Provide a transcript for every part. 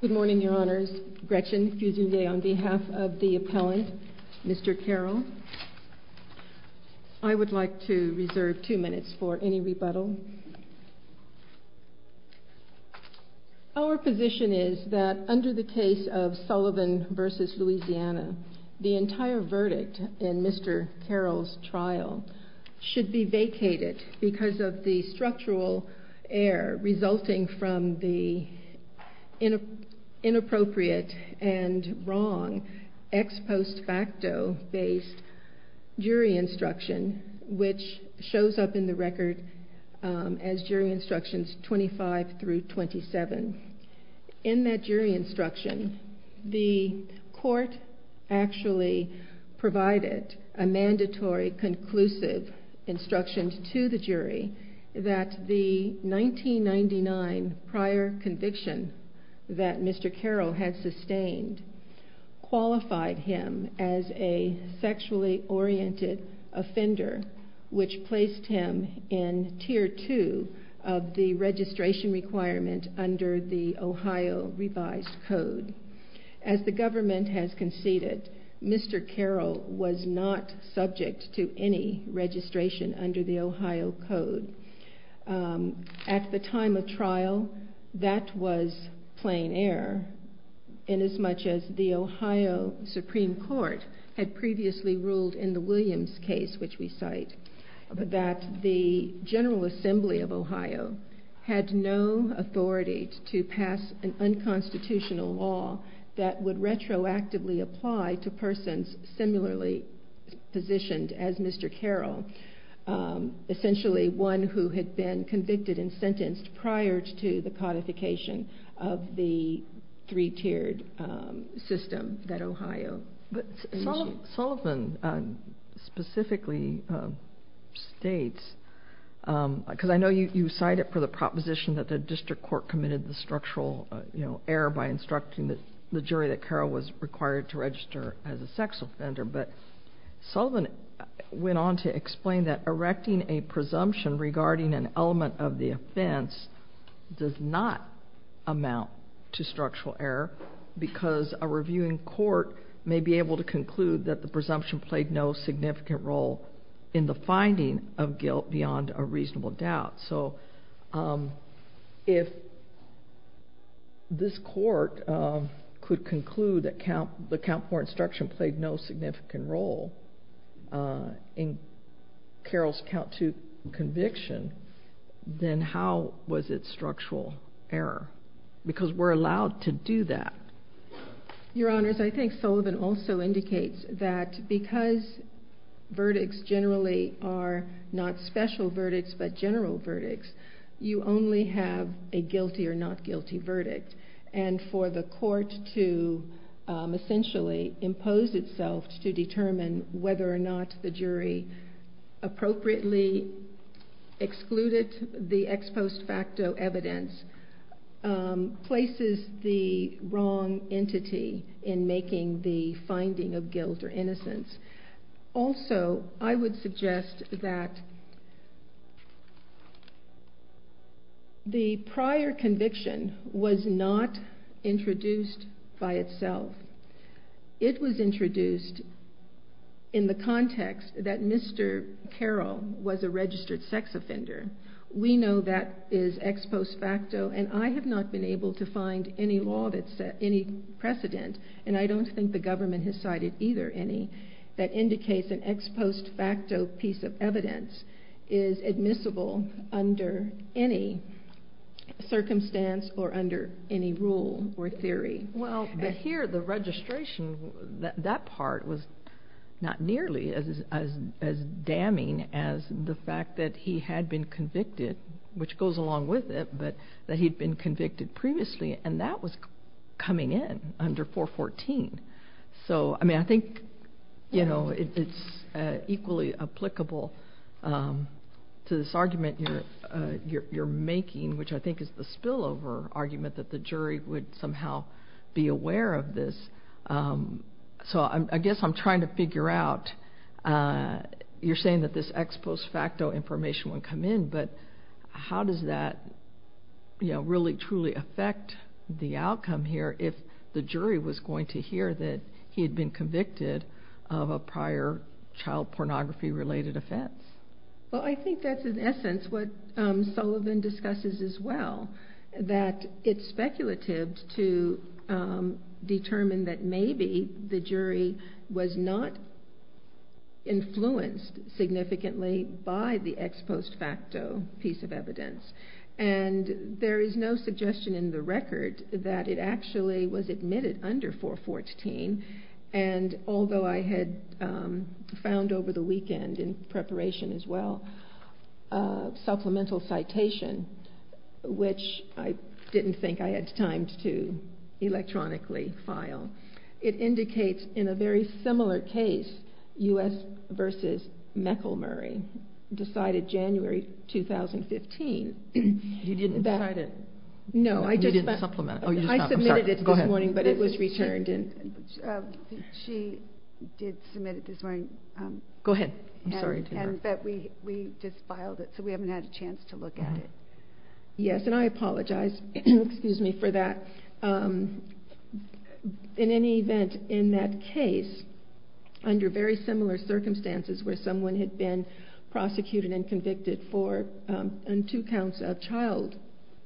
Good morning, your honors. Gretchen Fusilier on behalf of the appellant, Mr. Carroll. I would like to reserve two minutes for any rebuttal. Our position is that under the case of Sullivan v. Louisiana, the entire verdict in Mr. Carroll's trial should be vacated because of the structural error resulting from the inappropriate and wrong ex post facto based jury instruction which shows up in the record as jury instructions 25 through 27. In that jury instruction, the court actually provided a mandatory conclusive instruction to the jury that the 1999 prior conviction that Mr. Carroll had sustained qualified him as a sexually oriented offender which placed him in tier two of the registration requirement under the Ohio revised code. As the government has conceded, Mr. Carroll was not subject to any registration under the Ohio code. At the time of trial, that was plain air inasmuch as the Ohio Supreme Court had previously ruled in the Williams case which we cite that the to pass an unconstitutional law that would retroactively apply to persons similarly positioned as Mr. Carroll, essentially one who had been convicted and sentenced prior to the codification of the three tiered system that Ohio. But Sullivan specifically states, because I know you cite it for the proposition that a district court committed the structural error by instructing the jury that Carroll was required to register as a sexual offender, but Sullivan went on to explain that erecting a presumption regarding an element of the offense does not amount to structural error because a reviewing court may be able to conclude that the presumption played no significant role in the finding of guilt beyond a reasonable doubt. So if this court could conclude that the count for instruction played no significant role in Carroll's count to conviction, then how was it structural error? Because we're allowed to do that. Your Honors, I think Sullivan also indicates that because verdicts generally are not special verdicts but general verdicts, you only have a guilty or not guilty verdict. And for the court to essentially impose itself to determine whether or not the jury appropriately excluded the ex post facto evidence places the wrong entity in making the finding of guilt or innocence. Also I would suggest that the prior conviction was not introduced by itself. It was introduced in the context that Mr. Carroll was a registered sex offender. We know that is ex post facto and I have not been able to find any law that set any precedent, and I don't think the government has cited either any, that indicates an ex post facto piece of evidence is admissible under any circumstance or under any rule or theory. Well, here the registration, that part was not nearly as damning as the fact that he had been convicted, which goes along with it, but that he'd been convicted previously and that was coming in under 414. So I mean I think it's equally applicable to this argument that you're making, which I think is the spillover argument that the jury would somehow be aware of this. So I guess I'm trying to figure out, you're saying that this ex post facto information would come in, but how does that really truly affect the outcome here if the jury was going to hear that he had been convicted of a prior child pornography related offense? Well, I think that's in essence what Sullivan discusses as well, that it's speculative to determine that maybe the jury was not influenced significantly by the ex post facto piece of evidence. And there is no suggestion in the record that it actually was admitted under 414, and although I had found over the weekend in preparation as well, supplemental citation, which I didn't think I had time to electronically file. It indicates in a very similar case, U.S. versus Meckle-Murray, decided January 2015. You didn't decide it? No, I submitted it this morning, but it was returned. She did submit it this morning, but we just filed it, so we haven't had a chance to look at it. Yes, and I apologize for that. In any event, in that case, under very similar circumstances where someone had been prosecuted and convicted for two counts of child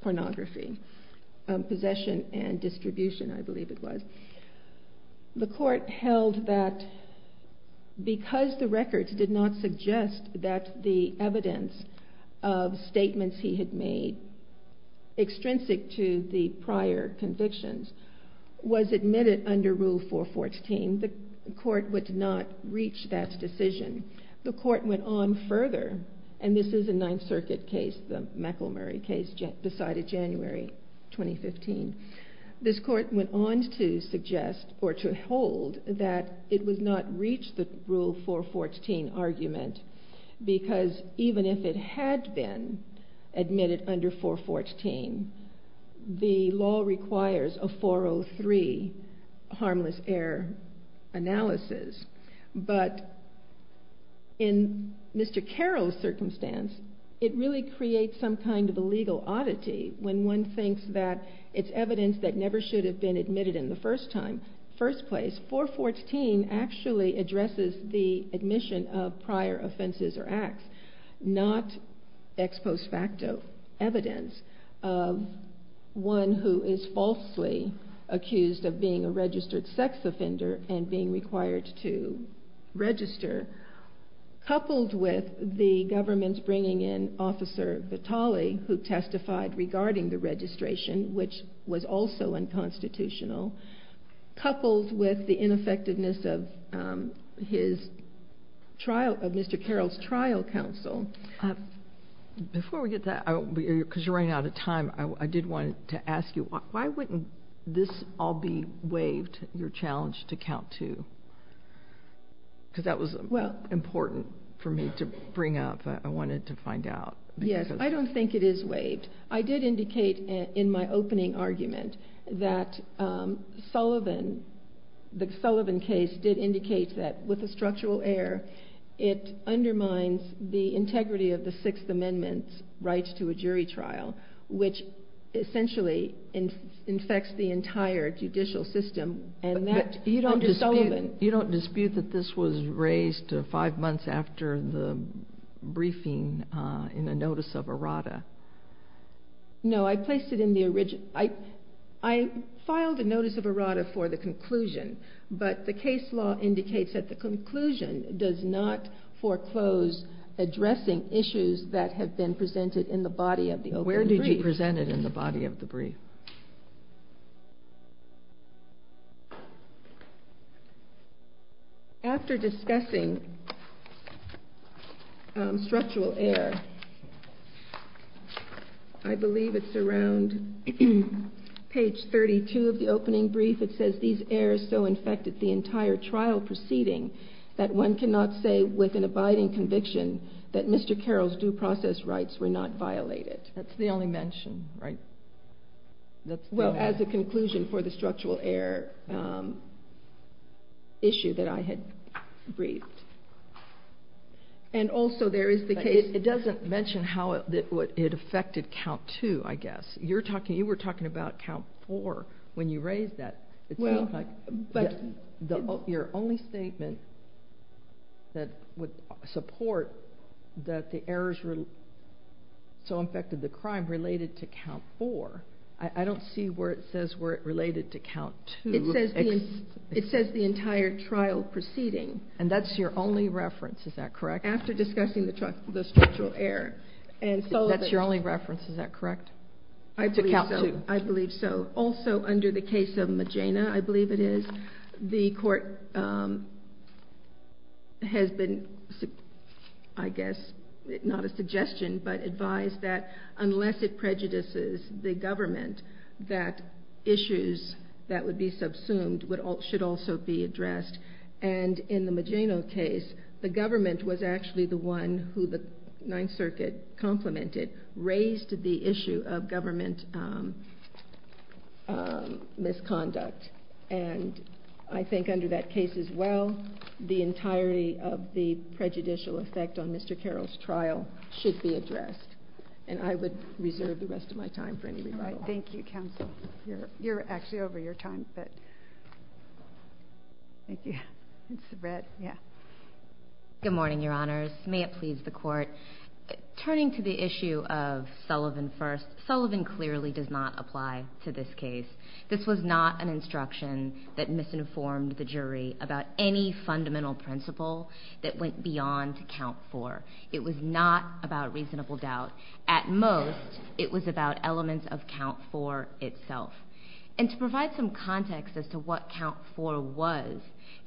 pornography, possession and distribution, I believe it was, the court held that because the records did not suggest that the evidence of statements he had made, extrinsic to the prior convictions, was admitted under Rule 414, the court would not reach that decision. The court went on further, and this is a Ninth Circuit case, the Meckle-Murray case, decided January 2015. This court went on to suggest, or to hold, that it would not reach the Rule 414 argument, because even if it had been admitted under 414, the law requires a 403 harmless error analysis. But in Mr. Carroll's circumstance, it really creates some kind of a legal oddity when one thinks that it's evidence that never should have been admitted in the first place. 414 actually addresses the admission of prior offenses or acts, not ex post facto evidence of one who is falsely accused of being a registered sex offender and being required to register. Coupled with the government's bringing in Officer Vitale, who testified regarding the trial of Mr. Carroll's trial counsel. Before we get to that, because you're running out of time, I did want to ask you, why wouldn't this all be waived, your challenge to count to? Because that was important for me to bring up. I wanted to find out. Yes, I don't think it is waived. I did with a structural error. It undermines the integrity of the Sixth Amendment's right to a jury trial, which essentially infects the entire judicial system. And that, you don't dispute that this was raised five months after the briefing in a notice of errata. No, I placed it in the original. I filed a notice of errata for the conclusion, but the case law indicates that the conclusion does not foreclose addressing issues that have been presented in the body of the open brief. Where did you present it in the body of the brief? After discussing structural error, I believe it's around page 32 of the opening brief. It says, these errors so infected the entire trial proceeding that one cannot say with an abiding conviction that Mr. Carroll's due process rights were not violated. That's the only mention, right? Well, as a conclusion for the structural error issue that I had briefed. And also, there is the case... It doesn't mention how it affected count two, I guess. You were talking about count four when you raised that. Your only statement that would support that the errors so infected the crime related to count four. I don't see where it says where it related to count two. It says the entire trial proceeding. And that's your only reference, is that correct? After discussing the structural error. That's your only reference, is that correct? I believe so. Also, under the case of Magena, I believe it is, the court has been, I guess, not a suggestion, but advised that unless it prejudices the government, that issues that would be subsumed should also be addressed. And in the Magena case, the government was actually the one who the Ninth Circuit complimented raised the issue of government misconduct. And I think under that case as well, the entirety of the prejudicial effect on Mr. Carroll's trial should be addressed. And I would reserve the rest of my time for any rebuttal. Thank you, counsel. You're right. May it please the court. Turning to the issue of Sullivan first, Sullivan clearly does not apply to this case. This was not an instruction that misinformed the jury about any fundamental principle that went beyond count four. It was not about reasonable doubt. At most, it was about elements of count four itself. And to provide some context as to what count four was,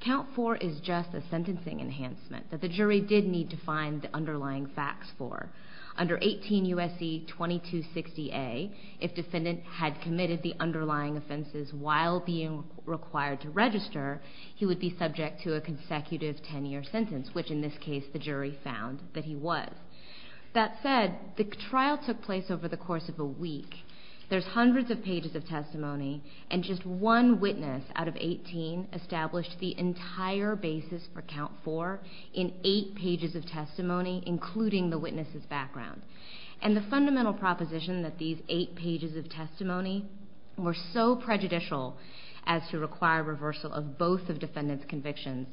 count four is just a sentencing enhancement that the jury did need to find the underlying facts for. Under 18 U.S.C. 2260A, if defendant had committed the underlying offenses while being required to register, he would be subject to a consecutive ten-year sentence, which in this case, the jury found that he was. That said, the trial took place over the course of a week. There's hundreds of pages of testimony, and just one witness out of each testimony, including the witness's background. And the fundamental proposition that these eight pages of testimony were so prejudicial as to require reversal of both of defendant's convictions,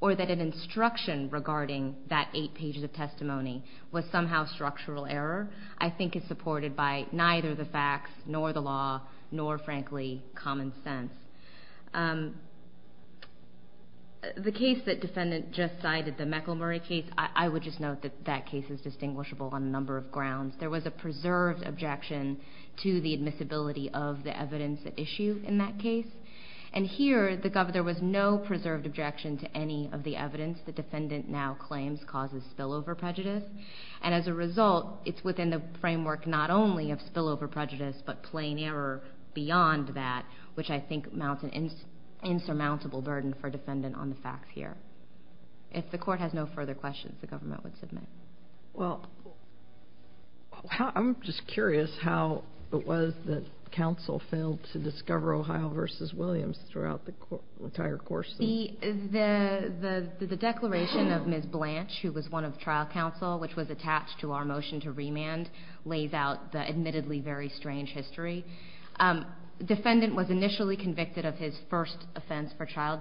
or that an instruction regarding that eight pages of testimony was somehow structural error, I think is supported by neither the facts, nor the law, nor, frankly, common sense. The case that defendant just cited, the Meckle-Murray case, I would just note that that case is distinguishable on a number of grounds. There was a preserved objection to the admissibility of the evidence at issue in that case. And here, there was no preserved objection to any of the evidence the defendant now claims causes spillover prejudice. And as a result, it's within the framework not only of spillover prejudice, but plain error beyond that, which I think mounts an insurmountable burden for a defendant on the facts here. If the court has no further questions, the government would submit. Well, I'm just curious how it was that counsel failed to discover Ohio v. Williams throughout the entire course of the trial. See, the declaration of Ms. Blanche, who was one of trial counsel, which was attached to our motion to remand, lays out the admittedly very strange history. Defendant was initially convicted of his first offense for child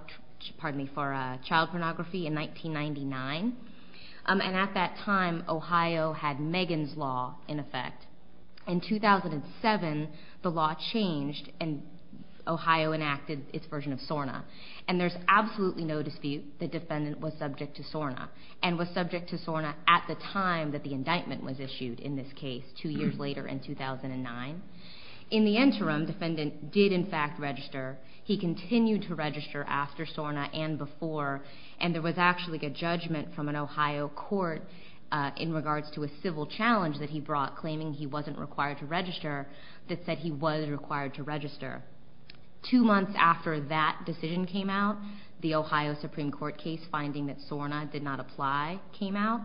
pornography in 1999. And at that time, Ohio had Megan's Law in effect. In 2007, the law changed, and Ohio enacted its version of SORNA. And there's absolutely no dispute the defendant was In the interim, defendant did in fact register. He continued to register after SORNA and before. And there was actually a judgment from an Ohio court in regards to a civil challenge that he brought, claiming he wasn't required to register, that said he was required to register. Two months after that decision came out, the Ohio Supreme Court case finding that SORNA did not apply came out,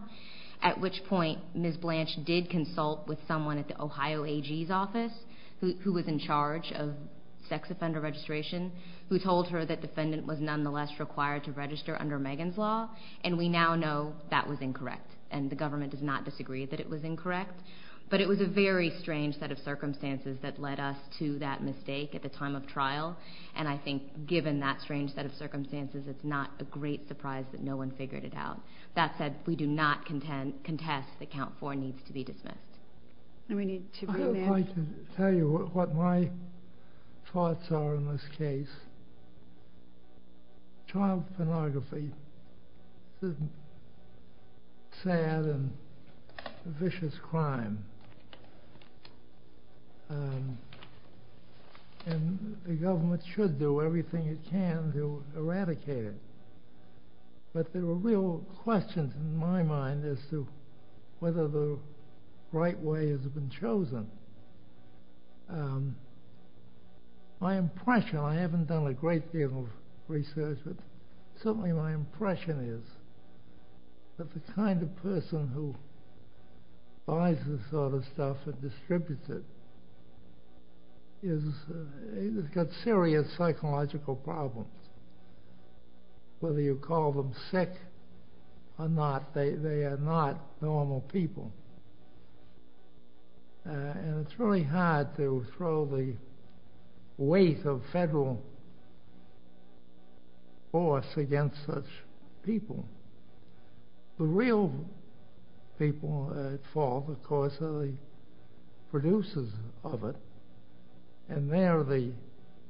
at which point Ms. Blanche did consult with Ohio AG's office, who was in charge of sex offender registration, who told her that defendant was nonetheless required to register under Megan's Law. And we now know that was incorrect. And the government does not disagree that it was incorrect. But it was a very strange set of circumstances that led us to that mistake at the time of trial. And I think given that strange set of circumstances, it's not a great surprise that no one figured it out. That said, we do not contest that Count 4 needs to be dismissed. I'd like to tell you what my thoughts are on this case. Child pornography is a sad and vicious crime. And the government should do everything it can to eradicate it. But there are real questions in my mind as to whether the right way has been chosen. My impression, I haven't done a great deal of research, but certainly my impression is that the kind of person who buys this sort of stuff and distributes it has got serious psychological problems, whether you call them sick or not. They are not normal people. And it's really hard to throw the weight of federal force against such people. The real people at fault, of course, are the producers of it. And there, at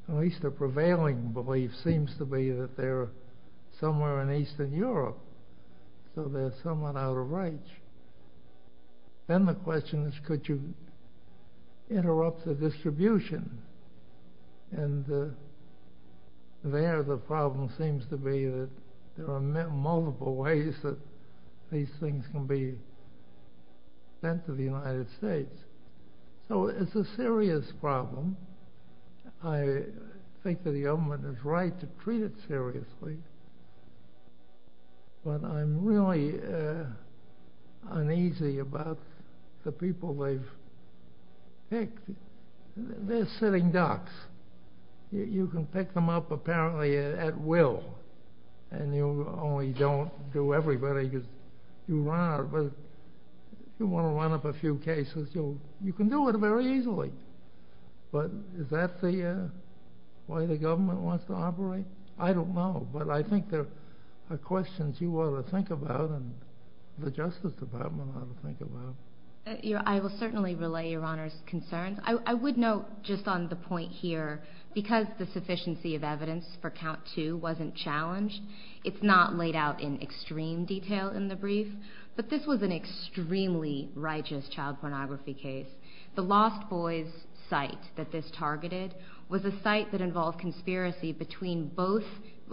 least the prevailing belief seems to be that they're somewhere in Eastern Europe. So they're somewhat out of reach. Then the question is, could you interrupt the distribution? And there the problem seems to be that there are multiple ways that these things can be sent to the United States. So it's a serious problem. I think that the government is right to treat it seriously. But I'm really uneasy about the people they've picked. They're sitting ducks. You can pick them up apparently at will, and you only don't do everybody. If you want to run up a few cases, you can do it very easily. But is that the way the government wants to operate? I don't know. But I think there are questions you ought to think about and the Justice Department ought to think about. I will certainly relay Your Honor's concerns. I would note just on the point here, because the sufficiency of evidence for count two wasn't challenged, it's not laid out in extreme detail in the brief, but this was an extremely righteous child pornography case. The Lost Boys site that this targeted was a site that involved conspiracy between both,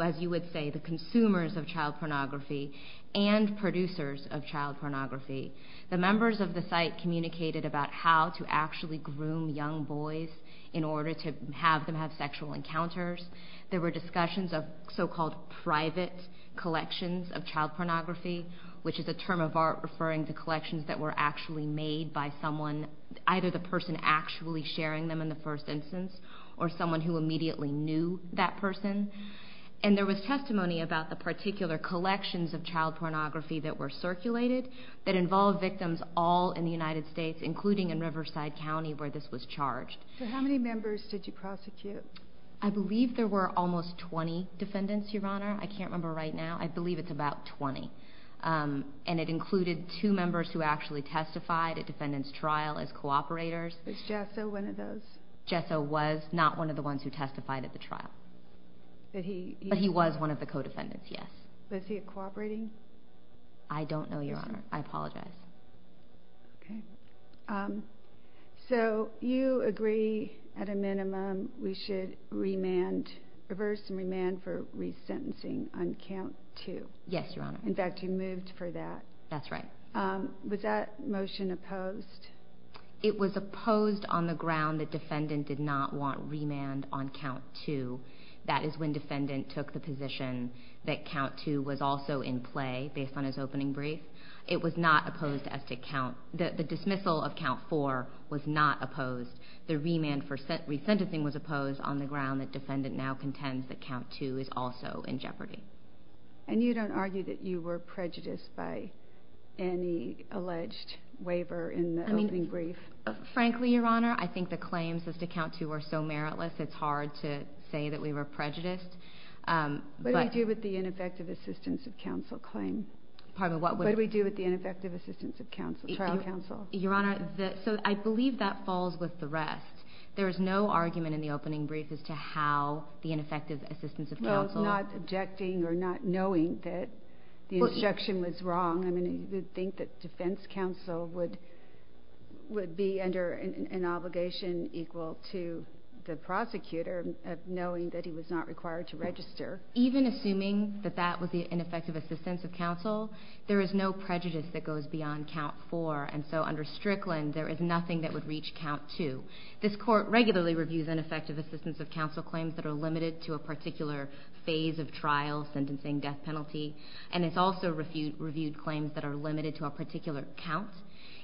as you would say, the consumers of child pornography and producers of child pornography. The members of the site communicated about how to actually groom young boys in order to have them have sexual encounters. There were discussions of so-called private collections of child pornography, which is a term of art referring to collections that were actually made by someone, either the person actually sharing them in the first instance or someone who immediately knew that person. And there was testimony about the particular collections of child pornography that were circulated that involved victims all in the United States, including in Riverside County where this was charged. So how many members did you prosecute? I believe there were almost 20 defendants, Your Honor. I can't remember right now. I believe it's about 20. And it included two members who actually testified at defendant's trial as cooperators. Was Jesso one of those? Jesso was not one of the ones who testified at the trial. But he was one of the co-defendants, yes. Was he cooperating? I don't know, Your Honor. I apologize. So you agree, at a minimum, we should reverse and remand for resentencing on count two? Yes, Your Honor. In fact, you moved for that. That's right. Was that motion opposed? It was opposed on the ground that defendant did not want remand on count two. That is when defendant took the position that count two was also in play, based on his opening brief. It was not opposed as to count – the dismissal of count four was not opposed. The remand for resentencing was opposed on the ground that defendant now contends that count two is also in jeopardy. And you don't argue that you were prejudiced by any alleged waiver in the opening brief? Frankly, Your Honor, I think the claims as to count two are so meritless, it's hard to say that we were prejudiced. What do we do with the ineffective assistance of counsel claim? Pardon me? What do we do with the ineffective assistance of trial counsel? Your Honor, I believe that falls with the rest. There is no argument in the opening brief as to how the ineffective assistance of counsel – He was not objecting or not knowing that the instruction was wrong. I mean, you would think that defense counsel would be under an obligation equal to the prosecutor of knowing that he was not required to register. Even assuming that that was the ineffective assistance of counsel, there is no prejudice that goes beyond count four. And so under Strickland, there is nothing that would reach count two. This Court regularly reviews ineffective assistance of counsel claims that are limited to a particular phase of trial, sentencing, death penalty. And it's also reviewed claims that are limited to a particular count.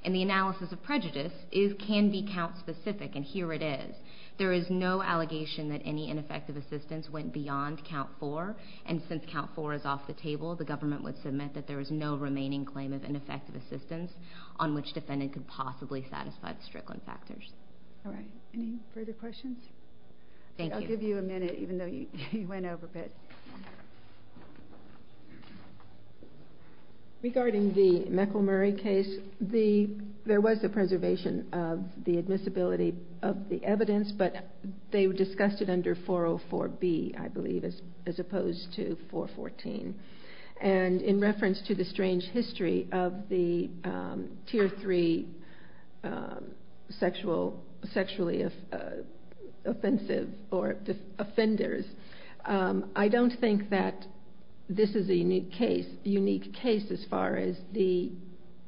And the analysis of prejudice can be count-specific, and here it is. There is no allegation that any ineffective assistance went beyond count four. And since count four is off the table, the government would submit that there is no remaining claim of ineffective assistance on which defendant could possibly satisfy the Strickland factors. All right. Any further questions? Thank you. I'll give you a minute, even though you went over a bit. Regarding the Meckle-Murray case, there was a preservation of the admissibility of the evidence, but they discussed it under 404B, I believe, as opposed to 414. And in reference to the strange history of the tier three sexually offensive or offenders, I don't think that this is a unique case as far as the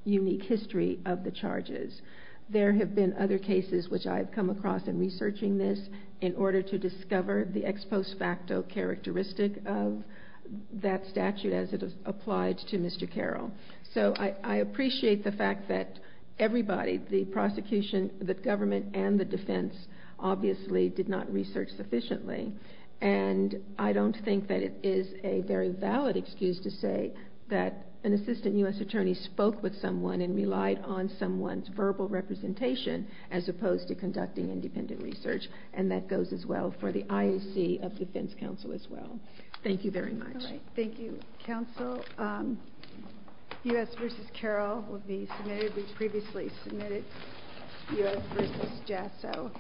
unique history of the charges. There have been other cases which I've come across in researching this in order to discover the ex post facto characteristic of that statute as it applied to Mr. Carroll. So I appreciate the fact that everybody, the prosecution, the government, and the defense, obviously did not research sufficiently. And I don't think that it is a very valid excuse to say that an assistant U.S. attorney spoke with someone and relied on someone's verbal representation as opposed to conducting independent research. And that goes as well for the IOC of defense counsel as well. Thank you very much. Thank you, counsel. U.S. v. Carroll will be submitted. We've previously submitted U.S. v. Jasso.